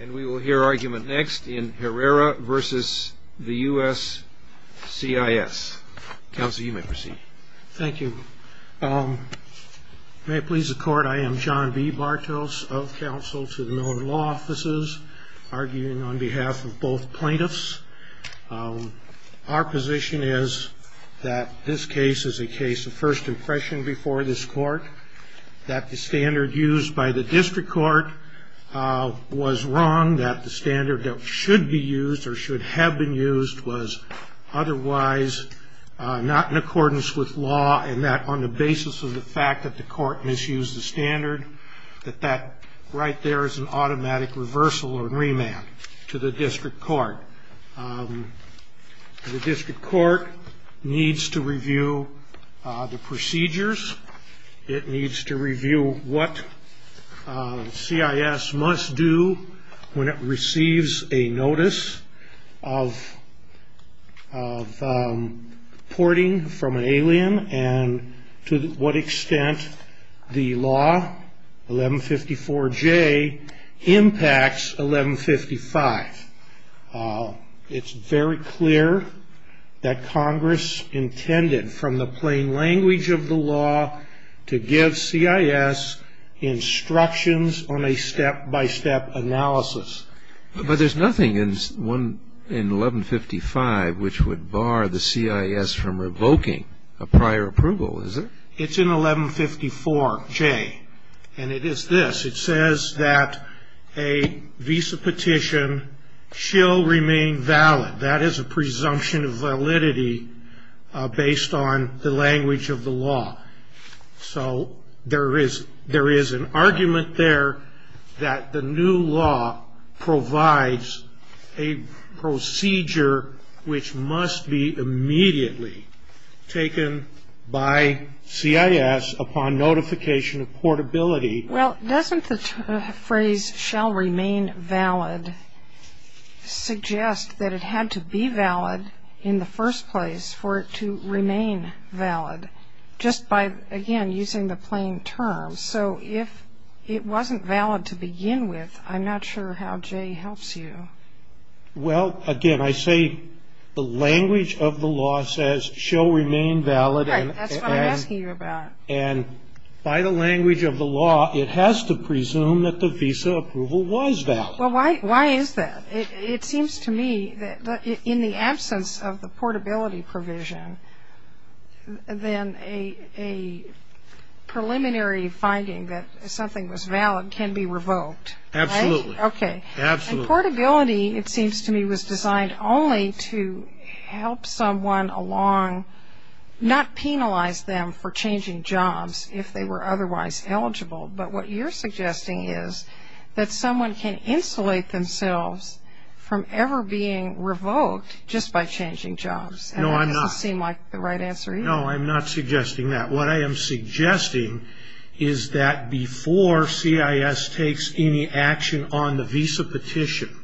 And we will hear argument next in Herrera v. the US CIS. Counsel, you may proceed. Thank you. May it please the Court, I am John B. Bartos of counsel to the Miller Law Offices, arguing on behalf of both plaintiffs. Our position is that this case is a case of first impression before this Court, that the standard used by the district court was wrong, that the standard that should be used or should have been used was otherwise not in accordance with law, and that on the basis of the fact that the court misused the standard, that that right there is an automatic reversal or remand to the district court. The district court needs to review the procedures. It needs to review what CIS must do when it receives a notice of porting from an alien and to what extent the law, 1154J, impacts 1155. It's very clear that Congress intended, from the plain language of the law, to give CIS instructions on a step-by-step analysis. But there's nothing in 1155 which would bar the CIS from revoking a prior approval, is there? It's in 1154J, and it is this. It says that a visa petition shall remain valid. That is a presumption of validity based on the language of the law. So there is an argument there that the new law provides a procedure which must be immediately taken by CIS upon notification of portability. Well, doesn't the phrase shall remain valid suggest that it had to be valid in the first place for it to remain valid just by, again, using the plain term? So if it wasn't valid to begin with, I'm not sure how J helps you. Well, again, I say the language of the law says shall remain valid. Right. That's what I'm asking you about. And by the language of the law, it has to presume that the visa approval was valid. Well, why is that? It seems to me that in the absence of the portability provision, then a preliminary finding that something was valid can be revoked. Absolutely. Okay. Absolutely. And portability, it seems to me, was designed only to help someone along, not penalize them for changing jobs if they were otherwise eligible. But what you're suggesting is that someone can insulate themselves from ever being revoked just by changing jobs. No, I'm not. And that doesn't seem like the right answer either. No, I'm not suggesting that. What I am suggesting is that before CIS takes any action on the visa petition,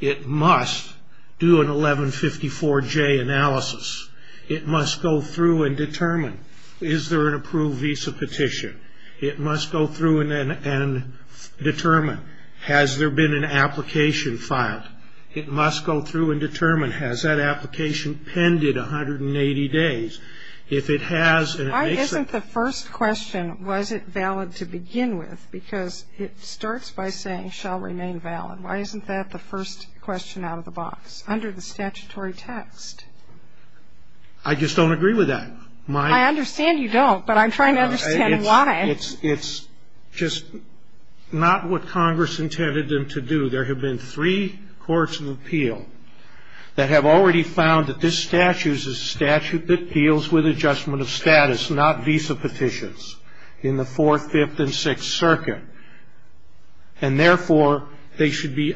it must do an 1154J analysis. It must go through and determine, is there an approved visa petition? It must go through and determine, has there been an application filed? It must go through and determine, has that application pended 180 days? If it has and it makes it. Why isn't the first question, was it valid to begin with? Because it starts by saying, shall remain valid. Why isn't that the first question out of the box, under the statutory text? I just don't agree with that. I understand you don't, but I'm trying to understand why. It's just not what Congress intended them to do. There have been three courts of appeal that have already found that this statute is a statute that deals with adjustment of status, not visa petitions, in the Fourth, Fifth, and Sixth Circuit. And therefore, they should be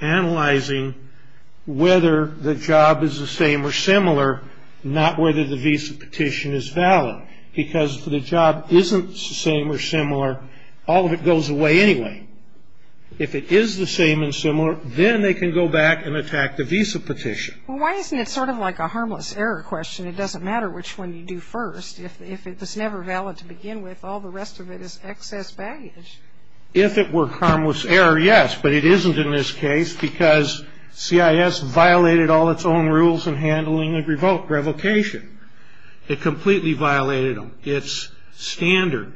analyzing whether the job is the same or similar, not whether the visa petition is valid. Because if the job isn't the same or similar, all of it goes away anyway. If it is the same and similar, then they can go back and attack the visa petition. Well, why isn't it sort of like a harmless error question? It doesn't matter which one you do first. If it's never valid to begin with, all the rest of it is excess baggage. If it were harmless error, yes. But it isn't in this case because CIS violated all its own rules in handling a revoke, revocation. It completely violated them. It's standard.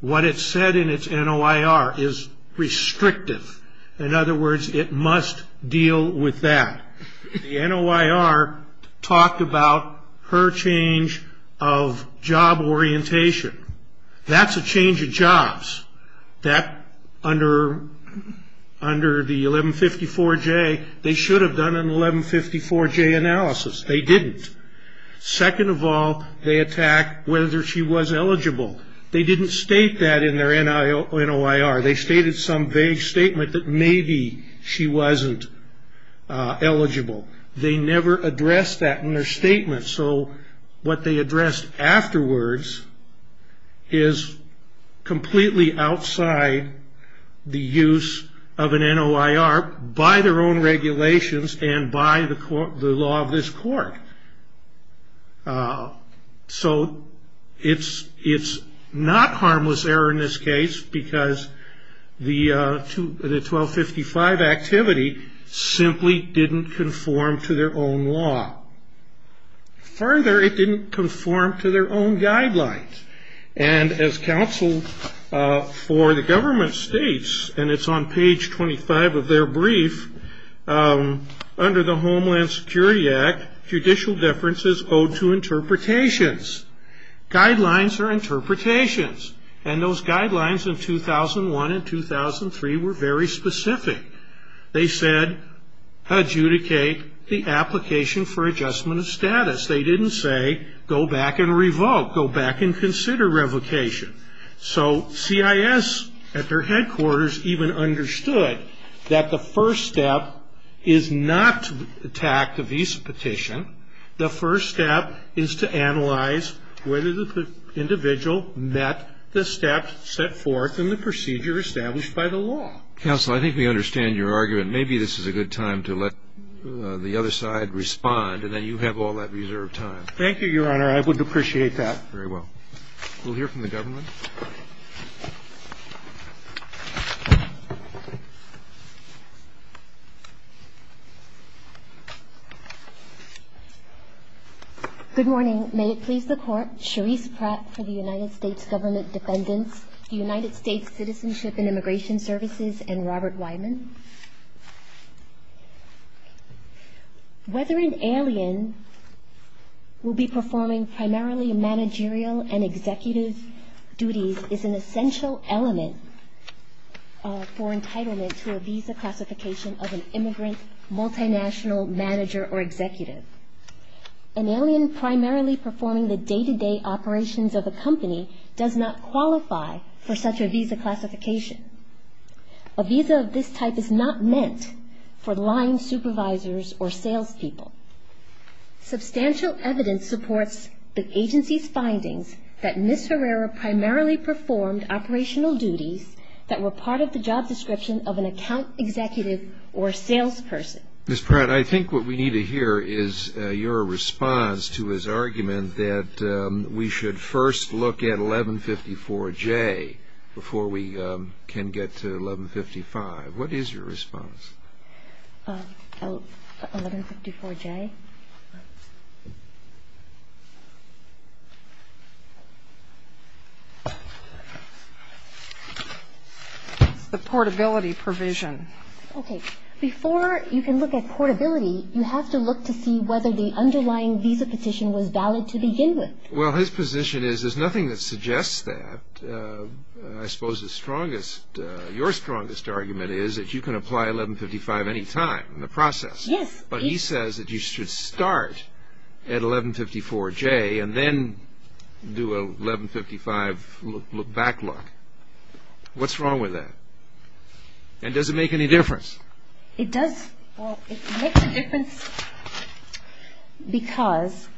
What it said in its NOIR is restrictive. In other words, it must deal with that. The NOIR talked about her change of job orientation. That's a change of jobs. That, under the 1154J, they should have done an 1154J analysis. They didn't. Second of all, they attacked whether she was eligible. They didn't state that in their NOIR. They stated some vague statement that maybe she wasn't eligible. They never addressed that in their statement. So what they addressed afterwards is completely outside the use of an NOIR by their own regulations and by the law of this court. So it's not harmless error in this case because the 1255 activity simply didn't conform to their own law. Further, it didn't conform to their own guidelines. And as counsel for the government states, and it's on page 25 of their brief, under the Homeland Security Act, judicial differences owe to interpretations. Guidelines are interpretations. And those guidelines in 2001 and 2003 were very specific. They said adjudicate the application for adjustment of status. They didn't say go back and revoke, go back and consider revocation. So CIS at their headquarters even understood that the first step is not to attack the visa petition. The first step is to analyze whether the individual met the steps set forth in the procedure established by the law. Counsel, I think we understand your argument. Maybe this is a good time to let the other side respond and then you have all that reserved time. Thank you, Your Honor. I would appreciate that. Very well. We'll hear from the government. Good morning. May it please the Court. Sharice Pratt for the United States Government Defendants. The United States Citizenship and Immigration Services and Robert Wyman. Whether an alien will be performing primarily managerial and executive duties is an essential element for entitlement to a visa classification of an immigrant, multinational manager or executive. An alien primarily performing the day-to-day operations of a company does not qualify for such a visa classification. A visa of this type is not meant for line supervisors or salespeople. Substantial evidence supports the agency's findings that Ms. Herrera primarily performed operational duties that were part of the job description of an account executive or salesperson. Ms. Pratt, I think what we need to hear is your response to his argument that we should first look at 1154J before we can get to 1155. What is your response? 1154J? The portability provision. Okay. Before you can look at portability, you have to look to see whether the underlying visa petition was valid to begin with. Well, his position is there's nothing that suggests that. I suppose the strongest, your strongest argument is that you can apply 1155 anytime in the process. Yes. But he says that you should start at 1154J and then do a 1155 back look. What's wrong with that? And does it make any difference? It does. Well, it makes a difference because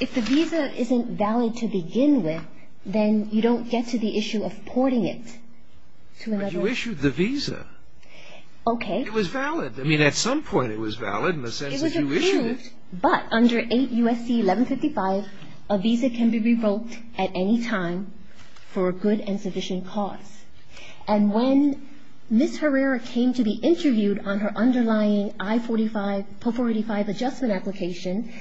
if the visa isn't valid to begin with, then you don't get to the issue of porting it to another. But you issued the visa. Okay. It was valid. I mean, at some point it was valid in the sense that you issued it. And when Ms. Herrera came to be interviewed on her underlying I-485 adjustment application,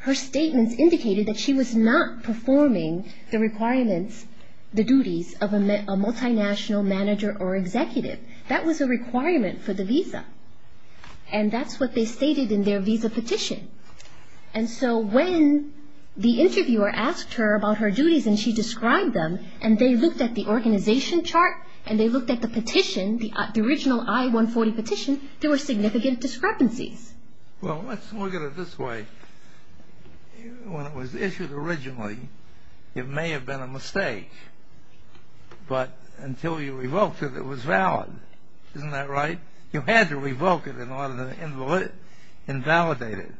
her statements indicated that she was not performing the requirements, the duties of a multinational manager or executive. That was a requirement for the visa. And that's what they stated in their visa petition. And so when the interviewer asked her about her duties and she described them and they looked at the organization chart and they looked at the petition, the original I-140 petition, there were significant discrepancies. Well, let's look at it this way. When it was issued originally, it may have been a mistake. But until you revoked it, it was valid. Isn't that right? You had to revoke it in order to invalidate it.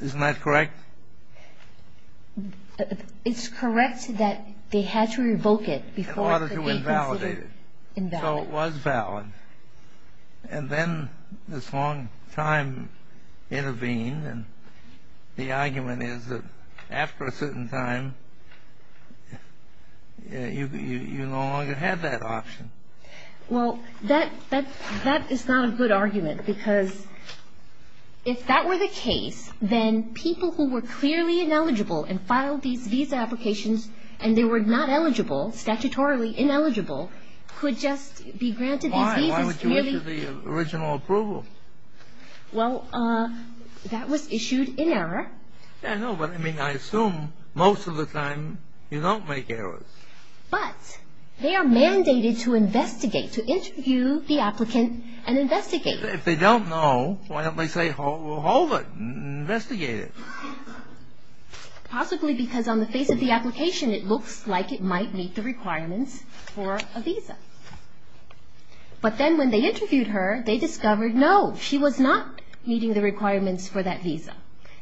Isn't that correct? It's correct that they had to revoke it before it could be considered invalid. In order to invalidate it. So it was valid. And then this long time intervened. And the argument is that after a certain time, you no longer had that option. Well, that is not a good argument because if that were the case, then people who were clearly ineligible and filed these visa applications and they were not eligible, statutorily ineligible, could just be granted these visas. Why would you issue the original approval? Well, that was issued in error. I know, but I mean, I assume most of the time you don't make errors. But they are mandated to investigate, to interview the applicant and investigate. If they don't know, why don't they say, hold it, investigate it. Possibly because on the face of the application, it looks like it might meet the requirements for a visa. But then when they interviewed her, they discovered, no, she was not meeting the requirements for that visa.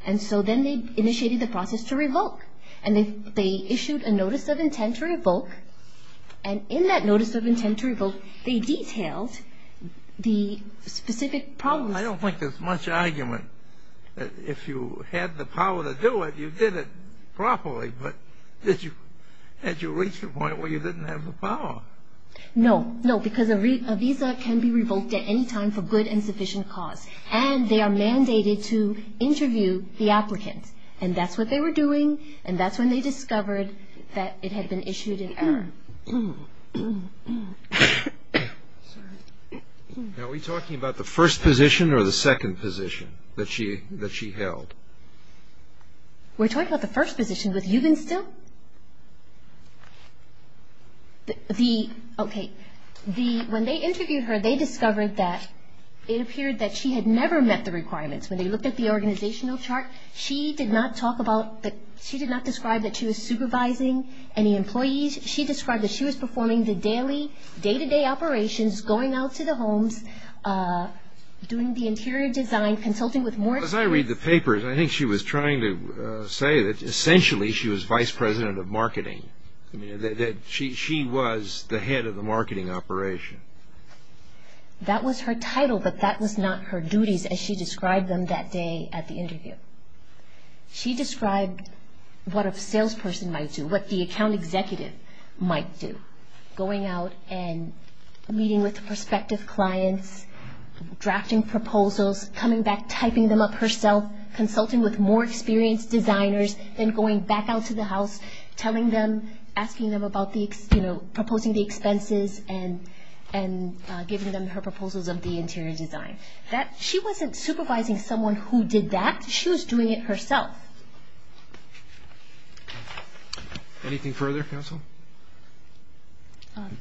And so then they initiated the process to revoke. And they issued a notice of intent to revoke. And in that notice of intent to revoke, they detailed the specific problems. Well, I don't think there's much argument that if you had the power to do it, you did it properly. But did you reach the point where you didn't have the power? No. No, because a visa can be revoked at any time for good and sufficient cause. And they are mandated to interview the applicant. And that's what they were doing. And that's when they discovered that it had been issued in error. Are we talking about the first position or the second position that she held? We're talking about the first position with Eugen Still. Okay. When they interviewed her, they discovered that it appeared that she had never met the requirements. When they looked at the organizational chart, she did not describe that she was supervising any employees. She described that she was performing the daily, day-to-day operations, going out to the homes, doing the interior design, consulting with more staff. As I read the papers, I think she was trying to say that essentially she was vice president of marketing, that she was the head of the marketing operation. That was her title, but that was not her duties as she described them that day at the interview. She described what a salesperson might do, what the account executive might do, going out and meeting with prospective clients, drafting proposals, coming back, typing them up herself, consulting with more experienced designers, then going back out to the house, telling them, asking them about the, you know, proposing the expenses and giving them her proposals of the interior design. She wasn't supervising someone who did that. She was doing it herself. Anything further, counsel?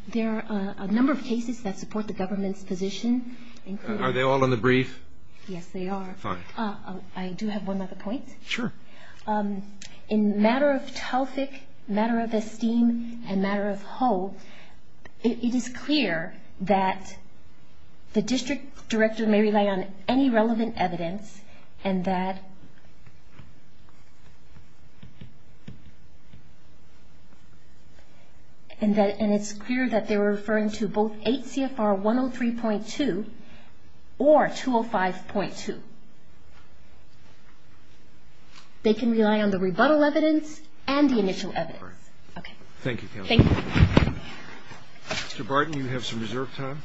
There are a number of cases that support the government's position. Are they all in the brief? Yes, they are. Fine. I do have one other point. Sure. In matter of TELFIC, matter of esteem, and matter of whole, it is clear that the district director may rely on any relevant evidence and that it's clear that they're referring to both 8 CFR 103.2 or 205.2. They can rely on the rebuttal evidence and the initial evidence. Okay. Thank you, counsel. Thank you. Mr. Barton, you have some reserved time.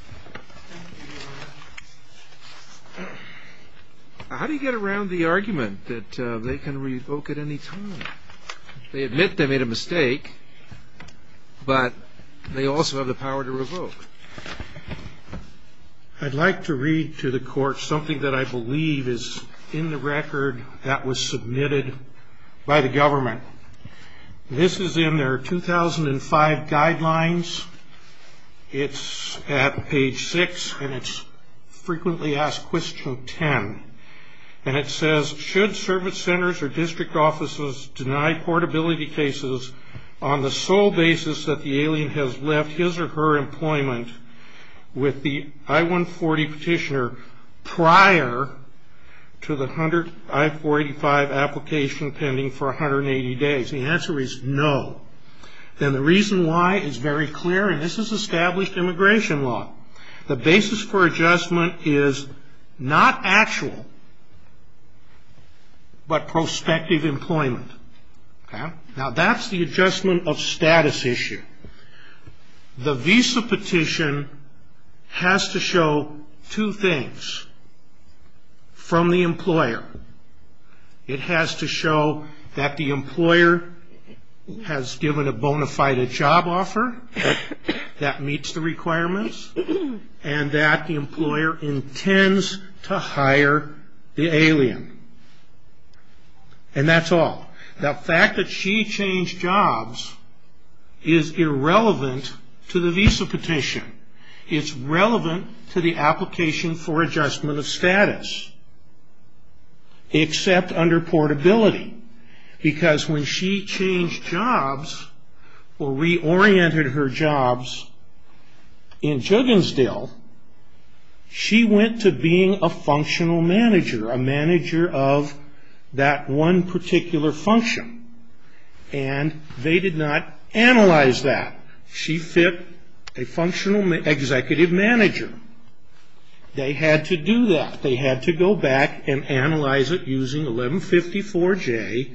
How do you get around the argument that they can revoke at any time? They admit they made a mistake, but they also have the power to revoke. I'd like to read to the court something that I believe is in the record that was submitted by the government. This is in their 2005 guidelines. It's at page 6, and it's frequently asked question 10. And it says, should service centers or district offices deny portability cases on the sole basis that the alien has left his or her employment with the I-140 petitioner prior to the I-485 application pending for 180 days? The answer is no. And the reason why is very clear, and this is established immigration law. The basis for adjustment is not actual, but prospective employment. Okay. Now, that's the adjustment of status issue. The visa petition has to show two things. From the employer, it has to show that the employer has given a bona fide job offer that meets the requirements. And that the employer intends to hire the alien. And that's all. The fact that she changed jobs is irrelevant to the visa petition. It's relevant to the application for adjustment of status, except under portability. Because when she changed jobs or reoriented her jobs in Juggensdill, she went to being a functional manager, a manager of that one particular function. And they did not analyze that. She fit a functional executive manager. They had to do that. They had to go back and analyze it using 1154J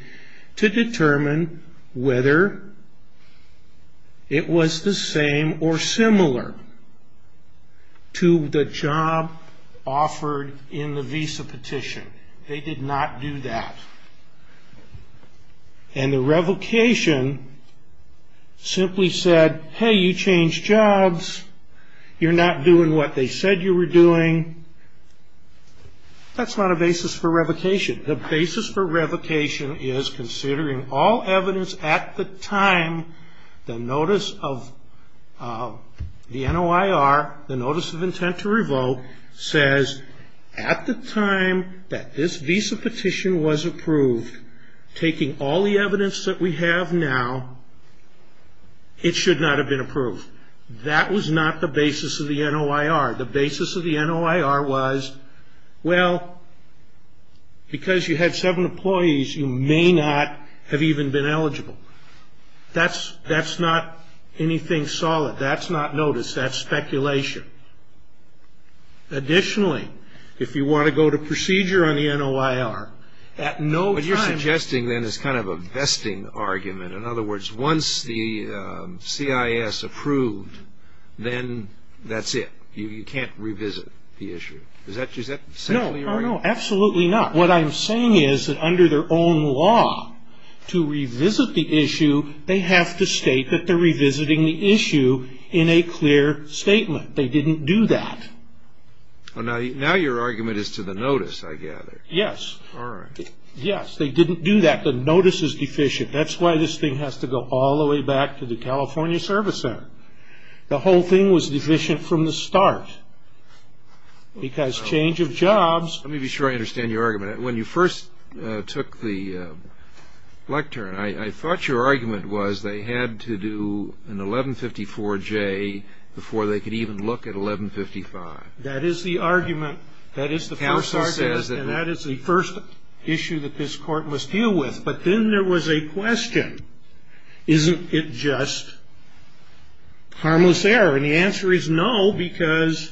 to determine whether it was the same or similar to the job offered in the visa petition. They did not do that. And the revocation simply said, hey, you changed jobs. You're not doing what they said you were doing. That's not a basis for revocation. The basis for revocation is considering all evidence at the time the notice of the NOIR, the notice of intent to revoke, says at the time that this visa petition was approved, taking all the evidence that we have now, it should not have been approved. That was not the basis of the NOIR. The basis of the NOIR was, well, because you had seven employees, you may not have even been eligible. That's not anything solid. That's not notice. That's speculation. Additionally, if you want to go to procedure on the NOIR, at no time… What you're suggesting, then, is kind of a vesting argument. In other words, once the CIS approved, then that's it. You can't revisit the issue. Is that essentially your argument? No, absolutely not. What I'm saying is that under their own law, to revisit the issue, they have to state that they're revisiting the issue in a clear statement. They didn't do that. Now your argument is to the notice, I gather. Yes. All right. Yes, they didn't do that. The notice is deficient. That's why this thing has to go all the way back to the California Service Center. The whole thing was deficient from the start because change of jobs… Let me be sure I understand your argument. When you first took the lectern, I thought your argument was they had to do an 1154J before they could even look at 1155. That is the argument. That is the first argument. Counsel says that… And that is the first issue that this Court must deal with. But then there was a question. Isn't it just harmless error? And the answer is no because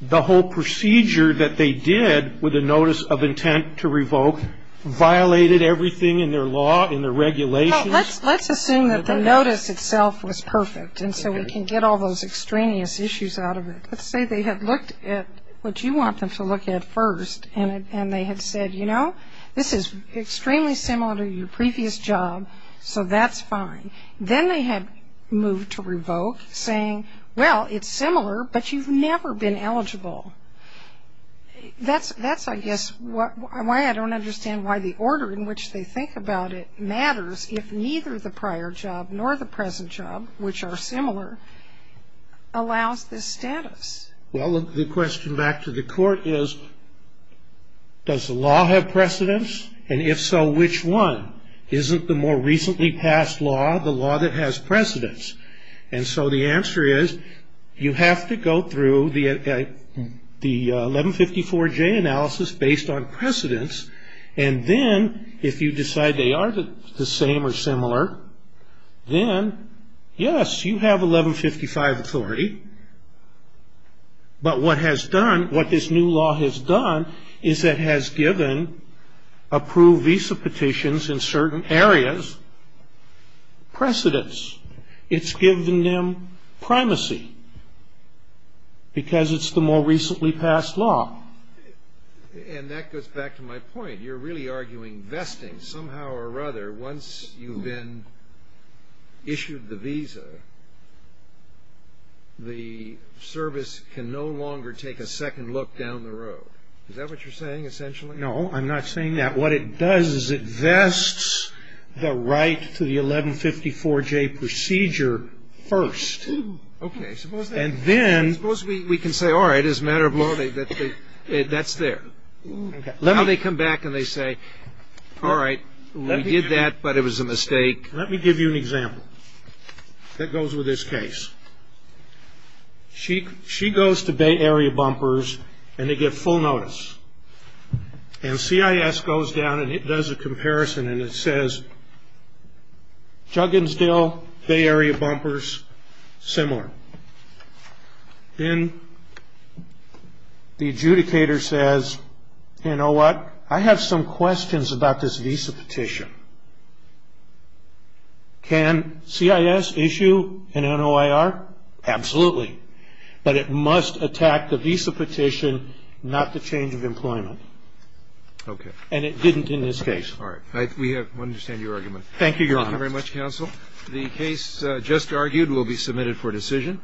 the whole procedure that they did with the notice of intent to revoke violated everything in their law, in their regulations. Well, let's assume that the notice itself was perfect and so we can get all those extraneous issues out of it. Let's say they had looked at what you want them to look at first and they had said, you know, this is extremely similar to your previous job, so that's fine. Then they had moved to revoke saying, well, it's similar, but you've never been eligible. That's, I guess, why I don't understand why the order in which they think about it matters if neither the prior job nor the present job, which are similar, allows this status. Well, the question back to the Court is does the law have precedence? And if so, which one? Isn't the more recently passed law the law that has precedence? And so the answer is you have to go through the 1154J analysis based on precedence and then if you decide they are the same or similar, then, yes, you have 1155 authority. But what this new law has done is it has given approved visa petitions in certain areas precedence. It's given them primacy because it's the more recently passed law. And that goes back to my point. You're really arguing vesting somehow or other once you've been issued the visa, the service can no longer take a second look down the road. Is that what you're saying, essentially? No, I'm not saying that. What it does is it vests the right to the 1154J procedure first. Okay. And then we can say, all right, as a matter of law, that's there. Now they come back and they say, all right, we did that, but it was a mistake. Let me give you an example that goes with this case. She goes to Bay Area Bumpers and they get full notice. And CIS goes down and it does a comparison and it says, Jugginsdale, Bay Area Bumpers, similar. Then the adjudicator says, you know what? I have some questions about this visa petition. Can CIS issue an NOIR? Absolutely. But it must attack the visa petition, not the change of employment. Okay. And it didn't in this case. All right. We understand your argument. Thank you, Your Honor. Thank you very much, counsel. The case just argued will be submitted for decision.